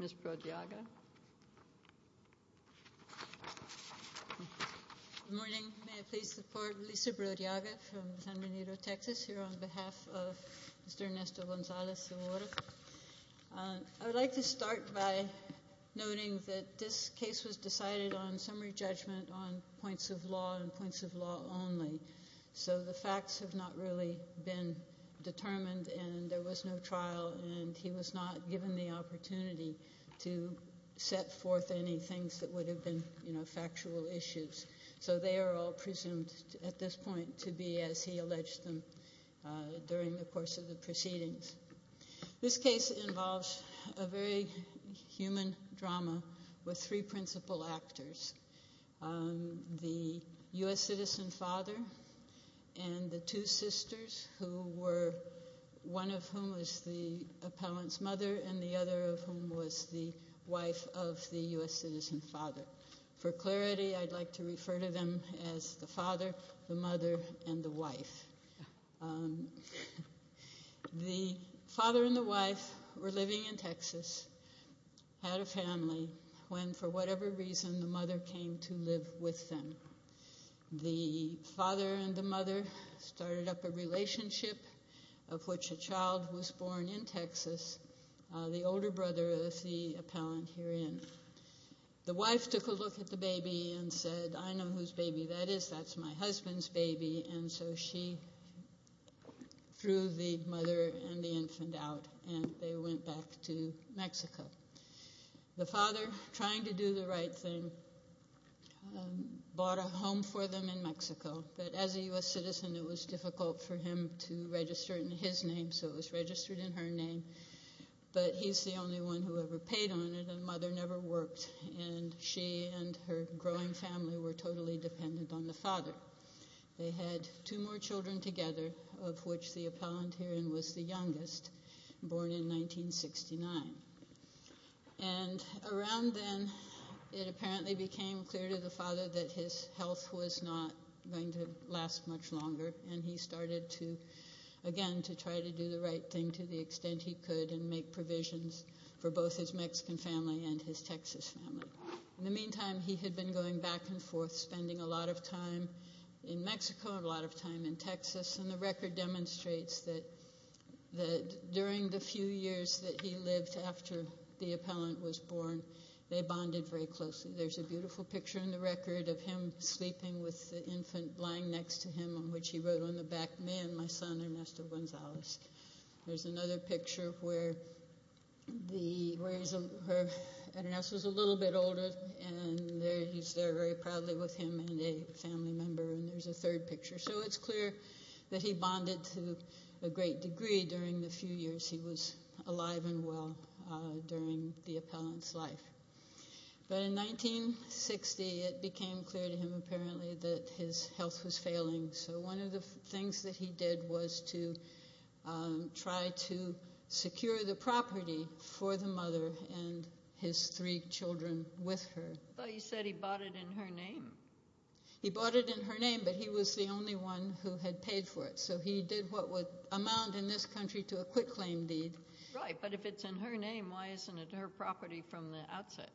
Good morning. May I please support Lisa Brodiaga from San Benito, Texas, here on behalf of Mr. Ernesto Gonzalez-Segura. I would like to start by noting that this case was decided on summary judgment on points of law and points of law only, so the facts have not really been determined and there was no trial and he was not given the opportunity to set forth any things that would have been factual issues. So they are all presumed at this point to be as he alleged them during the course of the proceedings. This case involves a very who were, one of whom was the appellant's mother and the other of whom was the wife of the U.S. citizen's father. For clarity, I'd like to refer to them as the father, the mother, and the wife. The father and the wife were living in Texas, had a family, when for whatever reason the mother came to live with them. The father and the mother started up a relationship of which a child was born in Texas, the older brother of the appellant herein. The wife took a look at the baby and said, I know whose baby that is, that's my husband's baby, and so she threw the mother and the infant out and they went back to Mexico. The father, trying to do the right thing, bought a home for them in Mexico, but as a U.S. citizen it was difficult for him to register it in his name so it was registered in her name, but he's the only one who ever paid on it and the mother never worked and she and her growing family were totally dependent on the father. They had two more children together of which the appellant herein was the youngest, born in 1969. Around then it apparently became clear to the father that his health was not going to last much longer and he started to, again, to try to do the right thing to the extent he could and make provisions for both his Mexican family and his Texas family. In the meantime, he had been going back and forth, spending a lot of time in Mexico, a lot of time in Texas, and the record demonstrates that during the few years that he lived after the appellant was born, they bonded very closely. There's a beautiful picture in the record of him sleeping with the infant lying next to him on which he wrote on the back, me and my son Ernesto Gonzalez. There's another picture where Ernesto's a little bit older and he's there very proudly with him and a family member and there's a third picture. It's clear that he bonded to a great degree during the few years he was alive and well during the appellant's life. In 1960, it became clear to him apparently that his health was failing. One of the things that he did was to try to secure the property for the mother and his three children with her. But you said he bought it in her name. He bought it in her name, but he was the only one who had paid for it, so he did what would amount in this country to a quick claim deed. Right, but if it's in her name, why isn't it her property from the outset?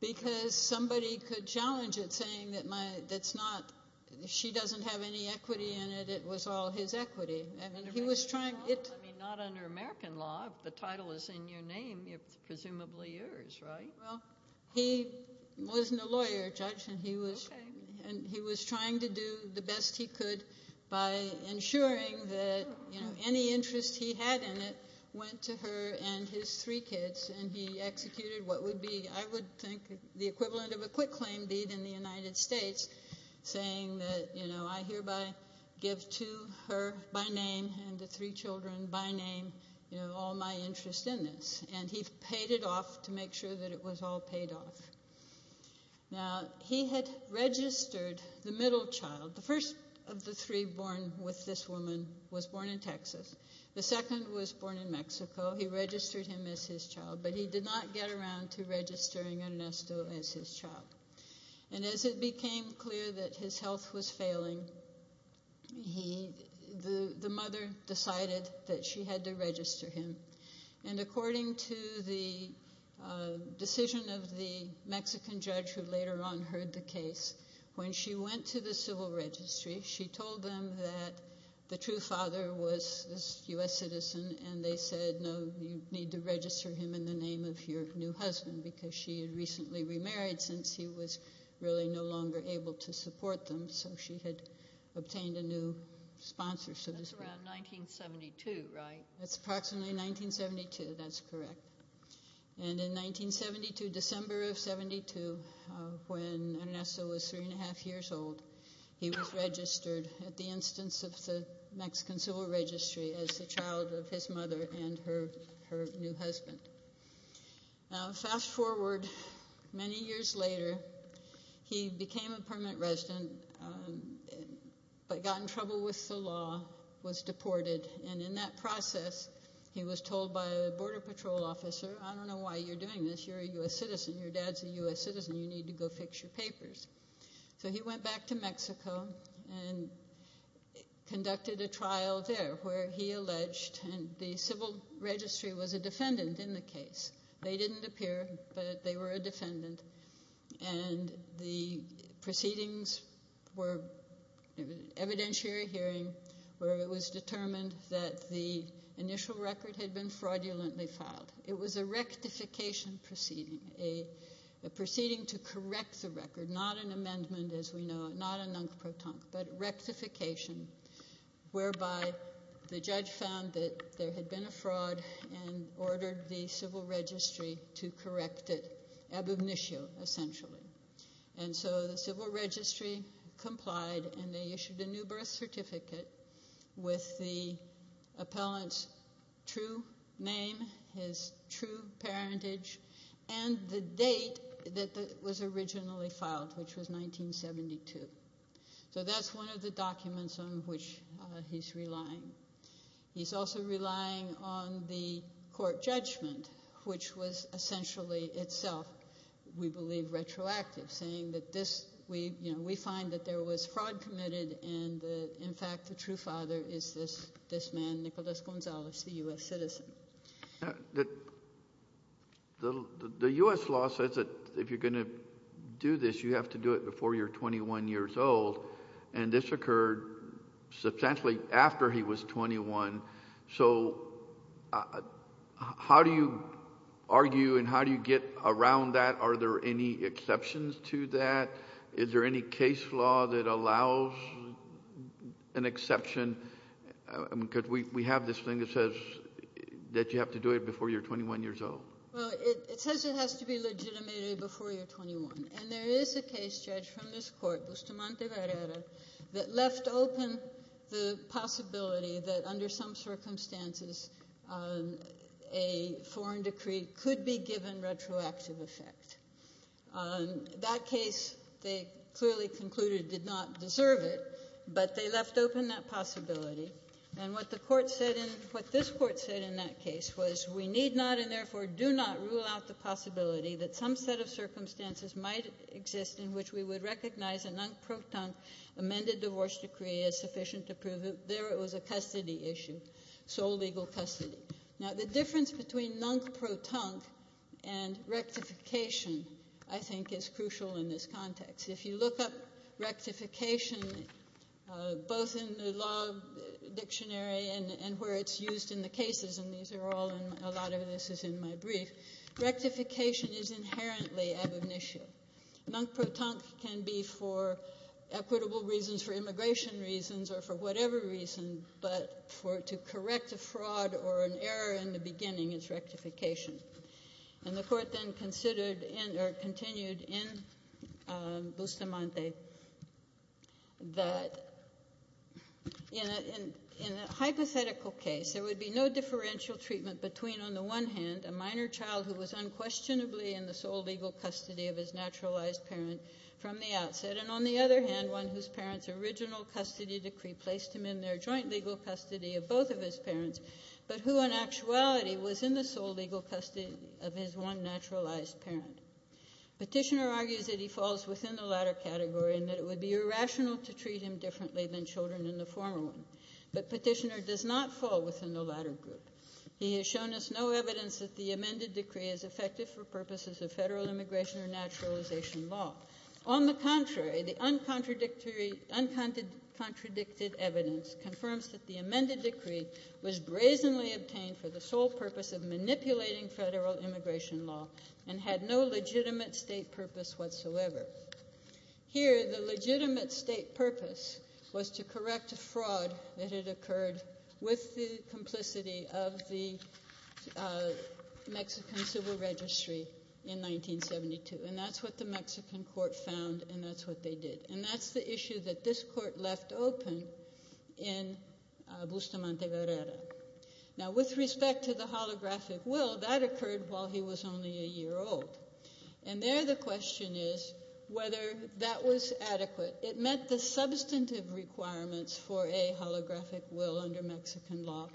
Because somebody could challenge it, saying that she doesn't have any equity in it, it was all his equity. Not under American law, if the title is in your name, it's presumably yours, right? Well, he wasn't a lawyer, Judge, and he was trying to do the best he could by ensuring that any interest he had in it went to her and his three kids and he executed what would be, I would think, the equivalent of a quick claim deed in the United States, saying that, you know, I hereby give to her by name and the three of my interest in this, and he paid it off to make sure that it was all paid off. Now, he had registered the middle child, the first of the three born with this woman, was born in Texas. The second was born in Mexico. He registered him as his child, but he did not get around to registering Ernesto as his child. And as it became clear that his health was failing, the mother decided that she had to register him. And according to the decision of the Mexican judge who later on heard the case, when she went to the civil registry, she told them that the true father was a U.S. citizen, and they said, no, you need to register him in the name of your new husband, because she had recently remarried since he was really no longer able to support them, so she had obtained a new sponsor. That's around 1972, right? That's approximately 1972, that's correct. And in 1972, December of 72, when Ernesto was three and a half years old, he was registered at the instance of the Mexican civil registry as the child of his mother and her new husband. Now, fast forward many years later, he became a permanent resident, but got in trouble with the law, was deported, and in that process, he was told by a border patrol officer, I don't know why you're doing this, you're a U.S. citizen, your dad's a U.S. citizen, you need to go fix your papers. So he went back to Mexico and conducted a trial there, where he alleged, and the civil registry was a defendant in the case. They didn't appear, but they were a defendant, and the proceedings were evidentiary hearing, where it was determined that the initial record had been fraudulently filed. It was a rectification proceeding, a proceeding to correct the record, not an amendment as we know it, not a non-croton, but rectification, whereby the judge found that there had been a fraud and ordered the civil registry to correct it, ab initio, essentially. And so the civil registry complied, and they issued a new birth certificate with the appellant's true name, his true parentage, and the date that it was originally filed, which was 1972. So that's one of the documents on which he's relying. He's also relying on the court judgment, which was essentially itself, we believe, retroactive, saying that this, you know, we find that there was fraud committed, and in fact the true father is this man, Nicolás González, the U.S. citizen. The U.S. law says that if you're going to do this, you have to do it before you're 21 years old, and this occurred substantially after he was 21. So how do you argue and how do you get around that? Are there any exceptions to that? Is there any case law that allows an exception? Because we have this thing that says that you have to do it before you're 21 years old. Well, it says it has to be legitimated before you're 21, and there is a case, Judge, from this court, Bustamante-Guerrera, that left open the possibility that under some circumstances a foreign decree could be given retroactive effect. That case, they clearly concluded, did not deserve it, but they left open that possibility, and what the court said in, what this court said in that case was we need not and therefore do not rule out the possibility that some set of circumstances might exist in which we would recognize a non-proton amended divorce decree as sufficient to prove there it was a custody issue, sole legal custody. Now, the difference between non-proton and rectification, I think, is crucial in this context. If you look up rectification, both in the law dictionary and where it's used in the cases, and these are all in, a lot of this is in my brief, rectification is inherently ab initio. Non-proton can be for equitable reasons, for immigration reasons, or for whatever reason, but to correct a fraud or an error in the beginning is rectification, and the court then considered or continued in Bustamante that in a hypothetical case, there would be no differential treatment between, on the one hand, a minor child who was unquestionably in the sole legal custody of his naturalized parent from the outset, and on the other hand, one whose parent's original custody decree placed him in their joint legal custody of both of his parents, but who in actuality was in the sole legal custody of his one naturalized parent. Petitioner argues that he falls within the latter category and that it would be irrational to treat him differently than children in the former one, but Petitioner does not fall within the latter group. He has shown us no evidence that the amended decree is effective for purposes of federal immigration or naturalization law. On the contrary, the uncontradicted evidence confirms that the amended decree was brazenly obtained for the sole purpose of manipulating federal immigration law and had no legitimate state purpose whatsoever. Here, the legitimate state purpose was to correct a fraud that had occurred with the complicity of the Mexican Civil Registry in 1972, and that's what the Mexican court found and that's what they did, and that's the issue that this court left open in Bustamante-Guerrera. Now, with respect to the holographic will, that occurred while he was only a year old, and there the question is whether that was adequate. It met the substantive requirements for a holographic will under Mexican law,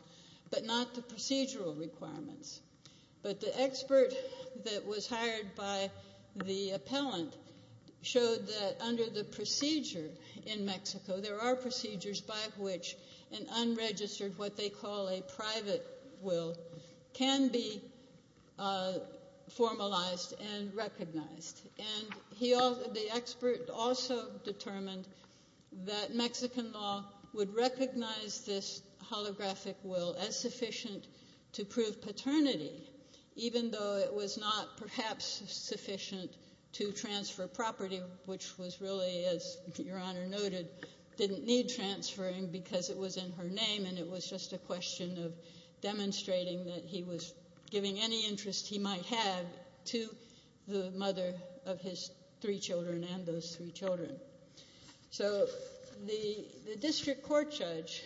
but not the procedural requirements. But the expert that was hired by the appellant showed that under the procedure in Mexico, there are procedures by which an unregistered, what they call a private will, can be formalized and recognized. And the expert also determined that Mexican law would recognize this holographic will as sufficient to prove paternity, even though it was not perhaps sufficient to transfer property, which was really, as Your Honor noted, didn't need transferring because it was in her name and it was just a question of demonstrating that he was giving any interest he might have to the mother of his three children and those three children. So the district court judge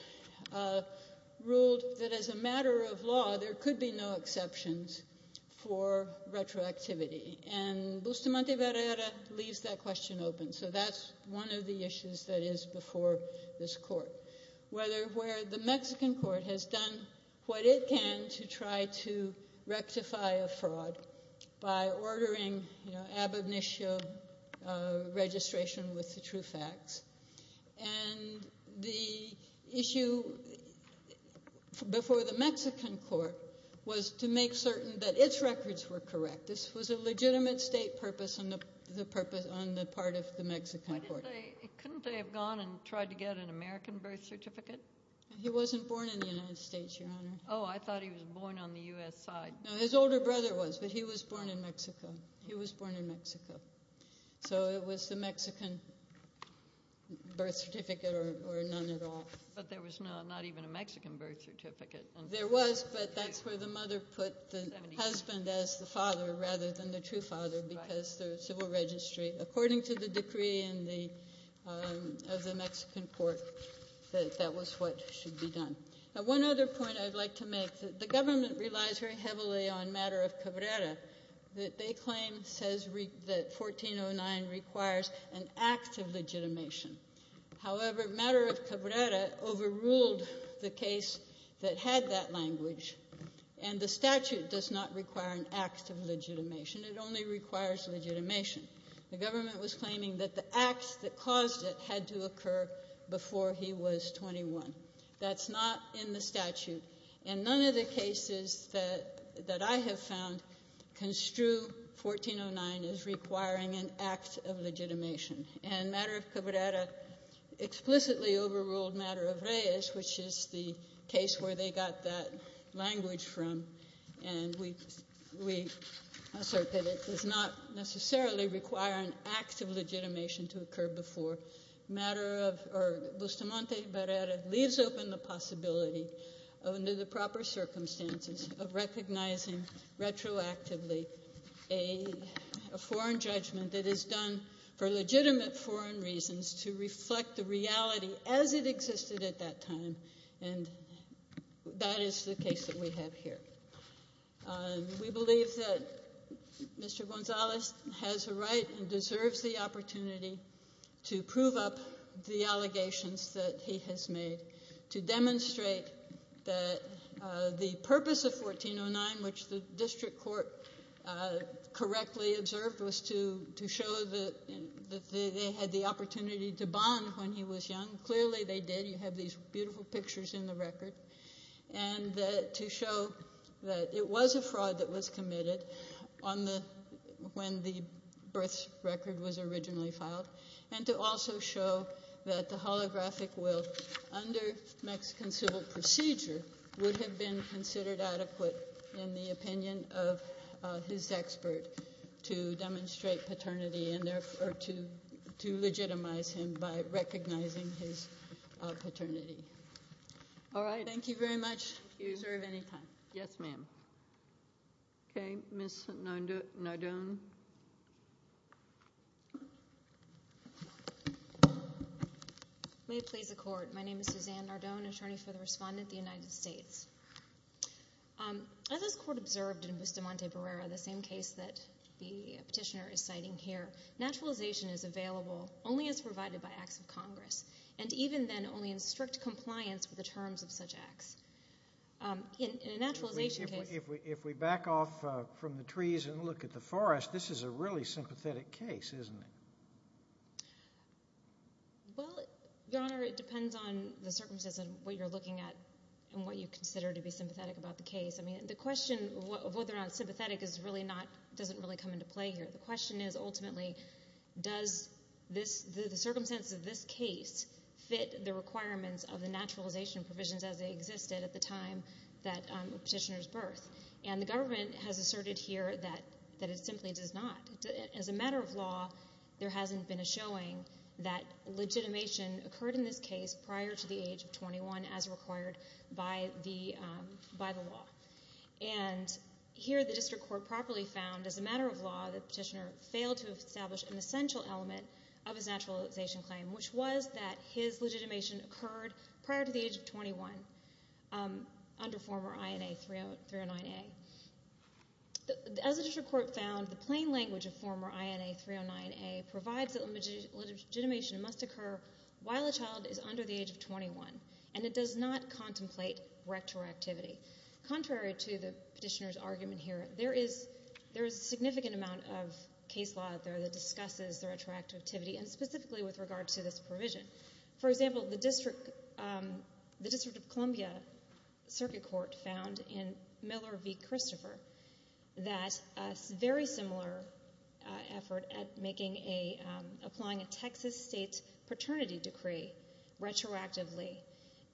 ruled that as a matter of law, there could be no exceptions for retroactivity, and Bustamante-Guerrera leaves that question open. So that's one of the issues that is before this court, where the Mexican court has done what it can to try to rectify a fraud by ordering ab initio registration with the true facts. And the issue before the Mexican court was to make certain that its records were correct. This was a legitimate state purpose on the part of the Mexican court. Couldn't they have gone and tried to get an American birth certificate? He wasn't born in the United States, Your Honor. Oh, I thought he was born on the U.S. side. No, his older brother was, but he was born in Mexico. He was born in Mexico. So it was the Mexican birth certificate or none at all. But there was not even a Mexican birth certificate. There was, but that's where the mother put the husband as the father rather than the true father because there's civil registry. According to the decree of the Mexican court, that was what should be done. Now, one other point I'd like to make. The government relies very heavily on matter of Cabrera that they claim says that 1409 requires an act of legitimation. However, matter of Cabrera overruled the case that had that language, and the statute does not require an act of legitimation. It only requires legitimation. The government was claiming that the acts that caused it had to occur before he was 21. That's not in the statute. And none of the cases that I have found construe 1409 as requiring an act of legitimation. And matter of Cabrera explicitly overruled matter of Reyes, which is the case where they got that language from. And we assert that it does not necessarily require an act of legitimation to occur before. Matter of Bustamante Cabrera leaves open the possibility under the proper circumstances of recognizing retroactively a foreign judgment that is done for legitimate foreign reasons to reflect the reality as it existed at that time, and that is the case that we have here. We believe that Mr. Gonzalez has a right and deserves the opportunity to prove up the allegations that he has made, to demonstrate that the purpose of 1409, which the district court correctly observed, was to show that they had the opportunity to bond when he was young. Clearly they did. You have these beautiful pictures in the record. And to show that it was a fraud that was committed when the birth record was originally filed. And to also show that the holographic will under Mexican civil procedure would have been considered adequate in the opinion of his expert to demonstrate paternity and to legitimize him by recognizing his paternity. Thank you very much. Yes, ma'am. Okay. Ms. Nardone. May it please the court. My name is Suzanne Nardone, attorney for the respondent of the United States. As this court observed in Bustamante Cabrera, the same case that the petitioner is citing here, naturalization is available only as provided by acts of Congress, and even then only in strict compliance with the terms of such acts. In a naturalization case. If we back off from the trees and look at the forest, this is a really sympathetic case, isn't it? Well, your honor, it depends on the circumstances of what you're looking at and what you consider to be sympathetic about the case. I mean, the question of whether or not sympathetic is really not, doesn't really come into play here. The question is ultimately, does the circumstance of this case fit the requirements of the naturalization provisions as they existed at the time of the petitioner's birth? And the government has asserted here that it simply does not. As a matter of law, there hasn't been a showing that legitimation occurred in this case prior to the age of 21 as required by the law. And here the district court properly found, as a matter of law, the petitioner failed to establish an essential element of his naturalization claim, which was that his legitimation occurred prior to the age of 21 under former INA 309A. As the district court found, the plain language of former INA 309A provides that legitimation must occur while a child is under the age of 21. And it does not contemplate retroactivity. Contrary to the petitioner's argument here, there is a significant amount of case law out there that discusses the retroactivity, and specifically with regard to this provision. For example, the District of Columbia Circuit Court found in Miller v. Christopher that a very similar effort at applying a Texas state paternity decree retroactively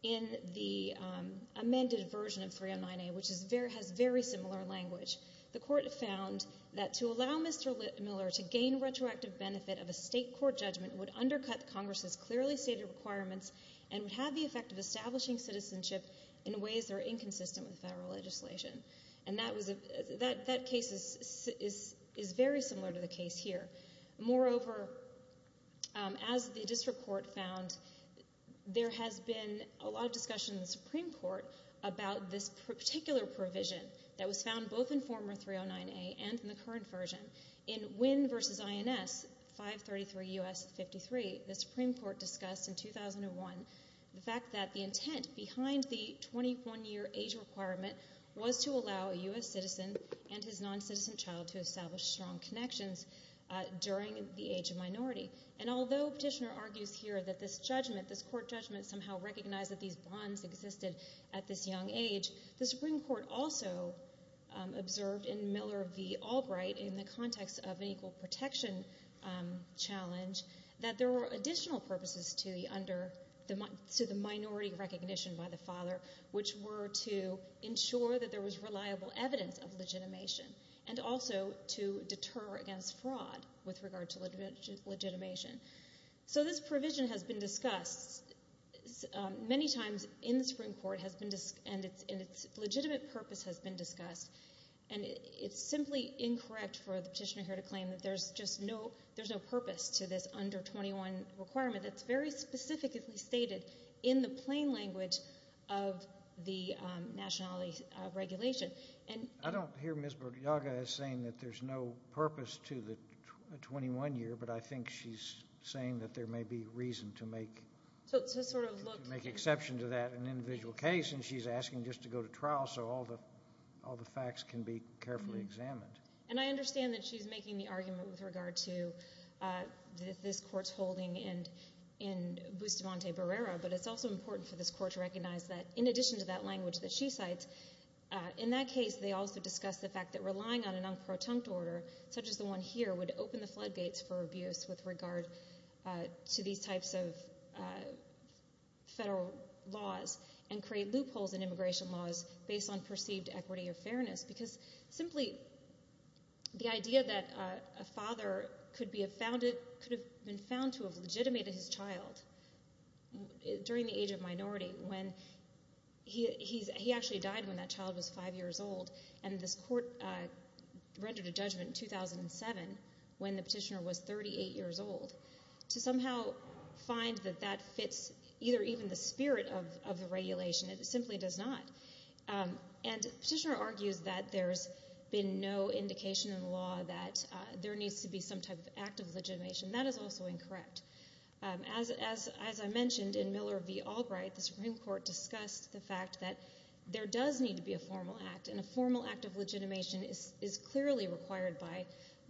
in the amended version of 309A, which has very similar language, the court found that to allow Mr. Miller to gain retroactive benefit of a state court judgment would undercut Congress's clearly stated requirements and would have the effect of establishing citizenship in ways that are inconsistent with federal legislation. And that case is very similar to the case here. Moreover, as the district court found, there has been a lot of discussion in the Supreme Court about this particular provision that was found both in former 309A and in the current version. In Wynne v. INS 533 U.S. 53, the Supreme Court discussed in 2001 the fact that the intent behind the 21-year age requirement was to allow a U.S. citizen and his non-citizen child to establish strong connections during the age of minority. And although petitioner argues here that this judgment, this court judgment, somehow recognized that these bonds existed at this young age, the Supreme Court also observed in Miller v. Albright in the context of an equal protection challenge that there were additional purposes to the minority recognition by the father, which were to ensure that there was reliable evidence of legitimation and also to deter against fraud with regard to legitimation. So this provision has been discussed many times in the Supreme Court and its legitimate purpose has been discussed. And it's simply incorrect for the petitioner here to claim that there's no purpose to this under 21 requirement that's very specifically stated in the plain language of the nationality regulation. I don't hear Ms. Borgiaga as saying that there's no purpose to the 21-year, but I think she's saying that there may be reason to make an exception to that in an individual case and she's asking just to go to trial so all the facts can be carefully examined. And I understand that she's making the argument with regard to this court's holding in Bustamante Barrera, but it's also important for this court to recognize that in addition to that language that she cites, in that case they also discuss the fact that relying on an unprotunct order, such as the one here, would open the floodgates for abuse with regard to these types of federal laws and create loopholes in immigration laws based on perceived equity or fairness because simply the idea that a father could have been found to have legitimated his child during the age of minority when he actually died when that child was five years old and this court rendered a judgment in 2007 when the petitioner was 38 years old to somehow find that that fits either even the spirit of the regulation. It simply does not. And the petitioner argues that there's been no indication in the law that there needs to be some type of act of legitimation. That is also incorrect. As I mentioned in Miller v. Albright, the Supreme Court discussed the fact that there does need to be a formal act and a formal act of legitimation is clearly required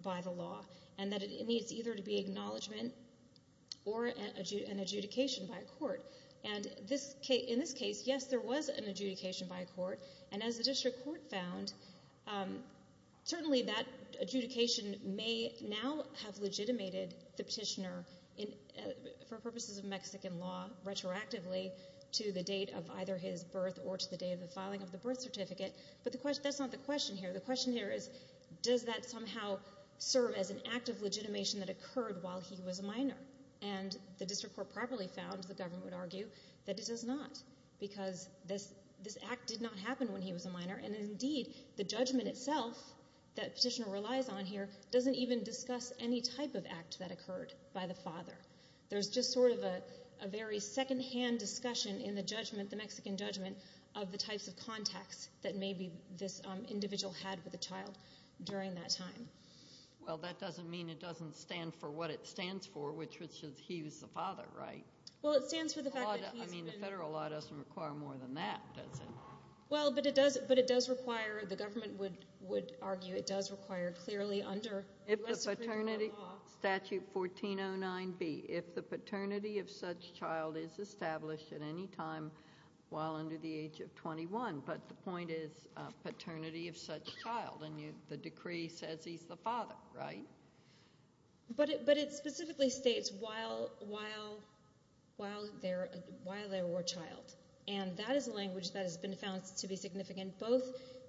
by the law and that it needs either to be acknowledgement or an adjudication by a court. And in this case, yes, there was an adjudication by a court and as the district court found, certainly that adjudication may now have legitimated the petitioner for purposes of Mexican law retroactively to the date of either his birth or to the date of the filing of the birth certificate, but that's not the question here. The question here is, does that somehow serve as an act of legitimation that occurred while he was a minor? And the district court probably found, the government would argue, that it does not because this act did not happen when he was a minor and indeed the judgment itself that petitioner relies on here doesn't even discuss any type of act that occurred by the father. There's just sort of a very secondhand discussion in the judgment, the Mexican judgment, of the types of contacts that maybe this individual had with the child during that time. Well, that doesn't mean it doesn't stand for what it stands for, which is he was the father, right? Well, it stands for the fact that he's been... I mean, the federal law doesn't require more than that, does it? Well, but it does require, the government would argue, it does require clearly under... If the paternity statute 1409B, if the paternity of such child is established at any time while under the age of 21, but the point is paternity of such child and the decree says he's the father, right? But it specifically states while they were a child and that is a language that has been found to be significant both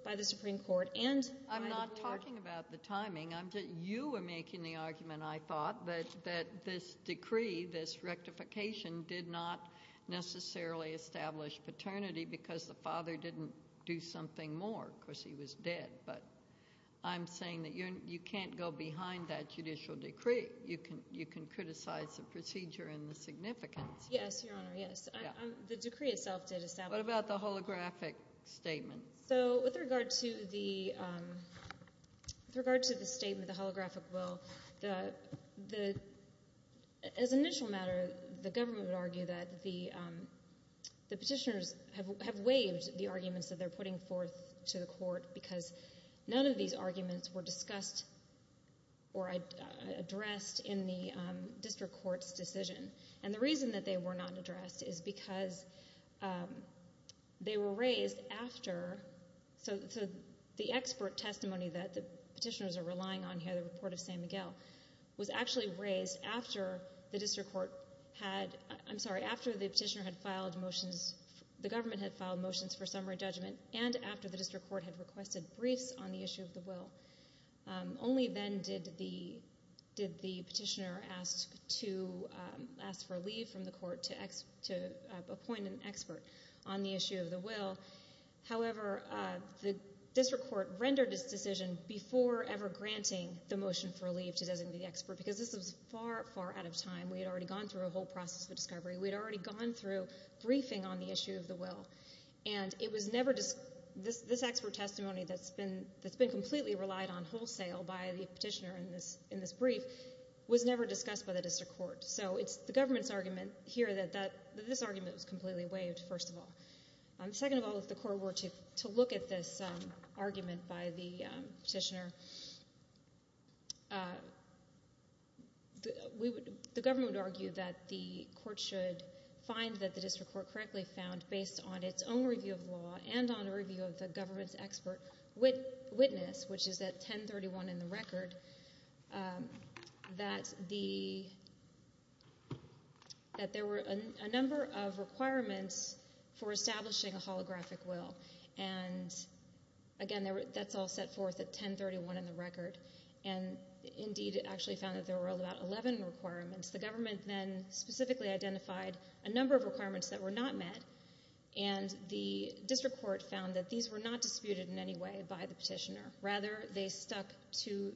by the Supreme Court and... I'm not talking about the timing. You were making the argument, I thought, that this decree, this rectification, did not necessarily establish paternity because the father didn't do something more. Of course, he was dead, but I'm saying that you can't go behind that judicial decree. You can criticize the procedure and the significance. Yes, Your Honor, yes. The decree itself did establish... What about the holographic statement? So, with regard to the statement, the holographic will, as an initial matter, the government would argue that the petitioners have waived the arguments that they're putting forth to the court because none of these arguments were discussed or addressed in the district court's decision. And the reason that they were not addressed is because they were raised after... So, the expert testimony that the petitioners are relying on here, the report of San Miguel, was actually raised after the district court had... I'm sorry, after the petitioner had filed motions... The government had filed motions for summary judgment and after the district court had requested briefs on the issue of the will. Only then did the petitioner ask for leave from the court to appoint an expert on the issue of the will. However, the district court rendered its decision before ever granting the motion for leave to designate the expert because this was far, far out of time. We had already gone through a whole process of discovery. We had already gone through briefing on the issue of the will. And it was never... This expert testimony that's been completely relied on wholesale by the petitioner in this brief was never discussed by the district court. So, it's the government's argument here that this argument was completely waived, first of all. Second of all, if the court were to look at this argument by the petitioner, the government would argue that the court should find that the district court correctly found, based on its own review of law and on a review of the government's expert witness, which is at 1031 in the record, that there were a number of requirements for establishing a holographic will. And, again, that's all set forth at 1031 in the record. And, indeed, it actually found that there were about 11 requirements. The government then specifically identified a number of requirements that were not met, and the district court found that these were not disputed in any way by the petitioner. Rather, they stuck to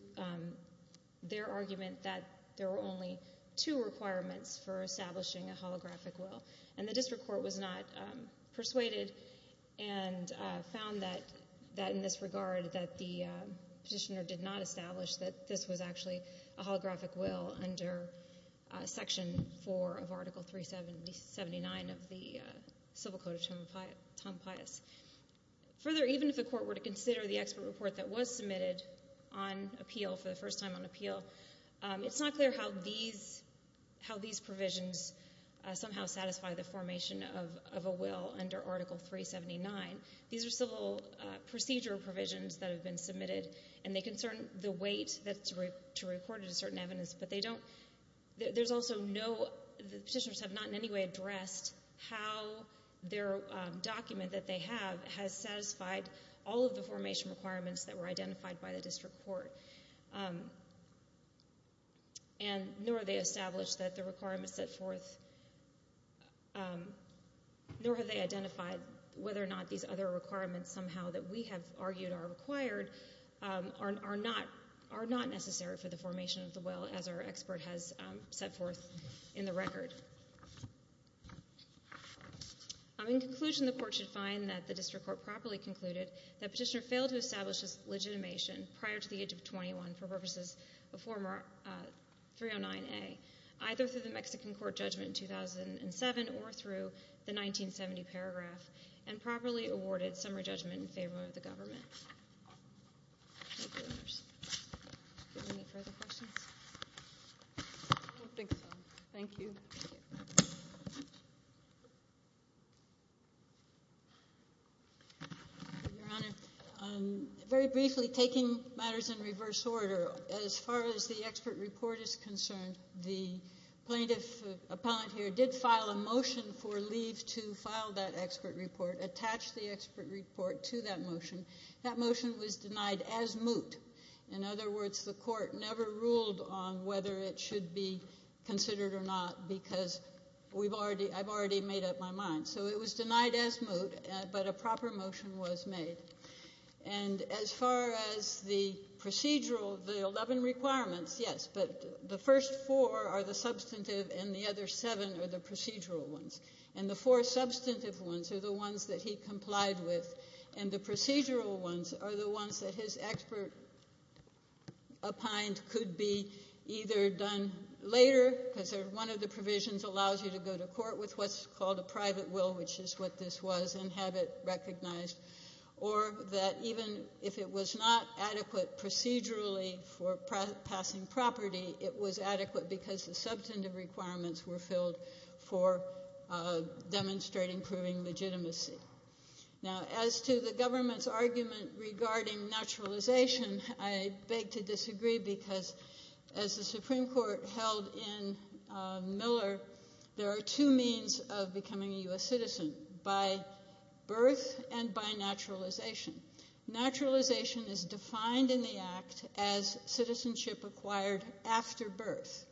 their argument that there were only two requirements for establishing a holographic will. And the district court was not persuaded and found that, in this regard, that the petitioner did not establish that this was actually a holographic will under Section 4 of Article 379 of the Civil Code of Tom Pius. Further, even if the court were to consider the expert report that was submitted on appeal, for the first time on appeal, it's not clear how these provisions somehow satisfy the formation of a will under Article 379. These are civil procedure provisions that have been submitted, and they concern the weight that's to report it to certain evidence, but they don't... The petitioners have not in any way addressed how their document that they have has satisfied all of the formation requirements that were identified by the district court. And nor have they established that the requirements set forth... Nor have they identified whether or not these other requirements somehow that we have argued are required are not necessary for the formation of the will as our expert has set forth in the record. In conclusion, the court should find that the district court properly concluded that the petitioner failed to establish his legitimation prior to the age of 21 for purposes of Form 309A, either through the Mexican court judgment in 2007 or through the 1970 paragraph, and properly awarded summary judgment in favor of the government. Any further questions? I don't think so. Thank you. Your Honor, very briefly, taking matters in reverse order, as far as the expert report is concerned, the plaintiff appellant here did file a motion for leave to file that expert report, attach the expert report to that motion. That motion was denied as moot. In other words, the court never ruled on whether it should be considered or not because I've already made up my mind. So it was denied as moot, but a proper motion was made. And as far as the procedural, the 11 requirements, yes, but the first 4 are the substantive and the other 7 are the procedural ones. And the 4 substantive ones are the ones that he complied with and the procedural ones are the ones that his expert opined could be either done later, because one of the provisions allows you to go to court with what's called a private will, which is what this was, and have it recognized, or that even if it was not adequate procedurally for passing property, it was adequate because the substantive requirements were filled for demonstrating proving legitimacy. Now, as to the government's argument regarding naturalization, I beg to disagree because as the Supreme Court held in Miller, there are 2 means of becoming a U.S. citizen, by birth and by naturalization. Naturalization is defined in the Act as citizenship acquired after birth.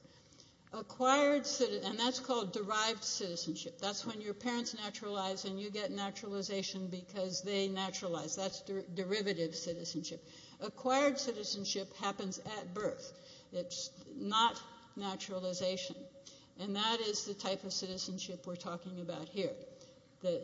And that's called derived citizenship. That's when your parents naturalized and you get naturalization because they naturalized. That's derivative citizenship. Acquired citizenship happens at birth. It's not naturalization. And that is the type of citizenship we're talking about here.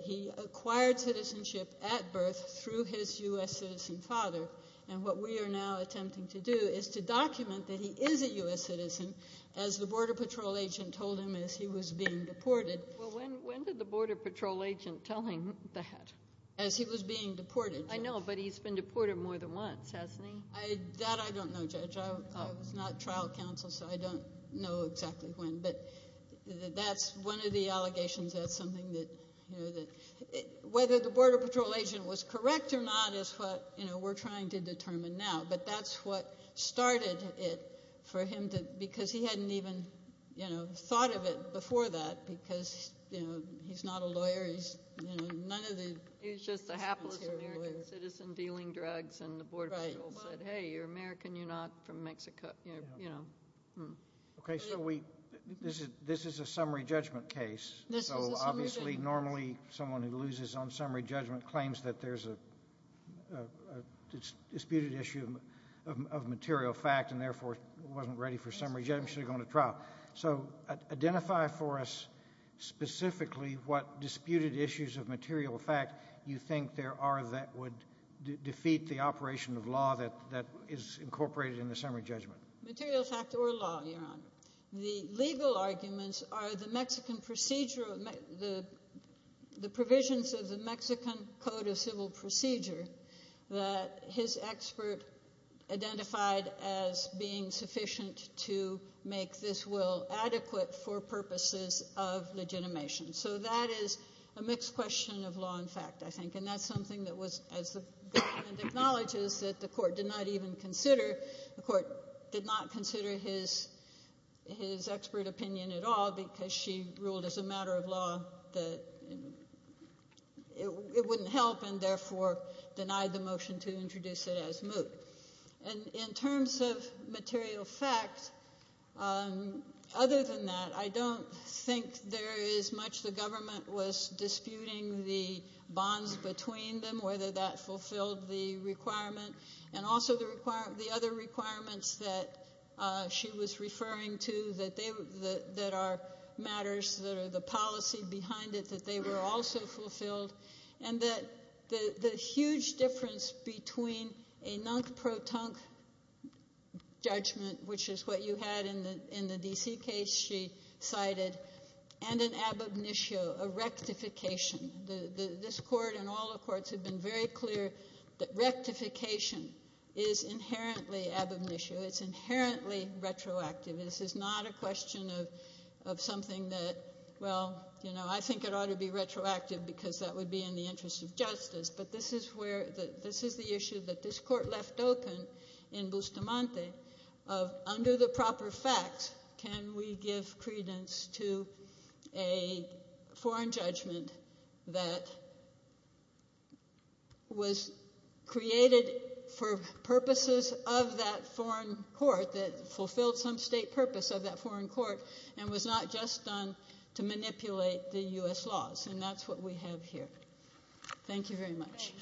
He acquired citizenship at birth through his U.S. citizen father and what we are now attempting to do is to document that he is a U.S. citizen as the Border Patrol agent told him as he was being deported. Well, when did the Border Patrol agent tell him that? As he was being deported. I know, but he's been deported more than once, hasn't he? That I don't know, Judge. I was not trial counsel so I don't know exactly when. That's one of the allegations. Whether the Border Patrol agent was correct or not is what we're trying to determine now but that's what started it for him because he hadn't even thought of it before that because he's not a lawyer. He's just a hapless American citizen dealing drugs and the Border Patrol said hey, you're American, you're not from Mexico. This is a summary judgment case so obviously normally someone who loses on summary judgment claims that there's a disputed issue of material fact and therefore wasn't ready for summary judgment and should have gone to trial. So identify for us specifically what disputed issues of material fact you think there are that would defeat the operation of law that is incorporated in the summary judgment. Material fact or law, Your Honor. The legal arguments are the Mexican procedure the provisions of the Mexican Code of Civil Procedure that his expert identified as being sufficient to make this will adequate for purposes of legitimation. So that is a mixed question of law and fact I think and that's something that was acknowledged that the court did not even consider the court did not consider his expert opinion at all because she ruled as a matter of law that it wouldn't help and therefore denied the motion to introduce it as moot. In terms of material fact other than that I don't think there is much the government was disputing the bonds between them whether that fulfilled the requirement and also the other requirements that she was referring to that are matters that are the policy behind it that they were also fulfilled and that the huge difference between a non-protunct judgment which is what you had in the D.C. case she cited and an ab initio, a rectification this court and all the courts have been very clear that rectification is inherently ab initio, it's inherently retroactive this is not a question of something that well you know I think it ought to be retroactive because that would be in the interest of justice but this is where this is the issue that this court left open in Bustamante of under the proper facts can we give credence to a foreign judgment that was created for purposes of that foreign court that fulfilled some state purpose of that foreign court and was not just done to manipulate the U.S. laws and that's what we have here thank you very much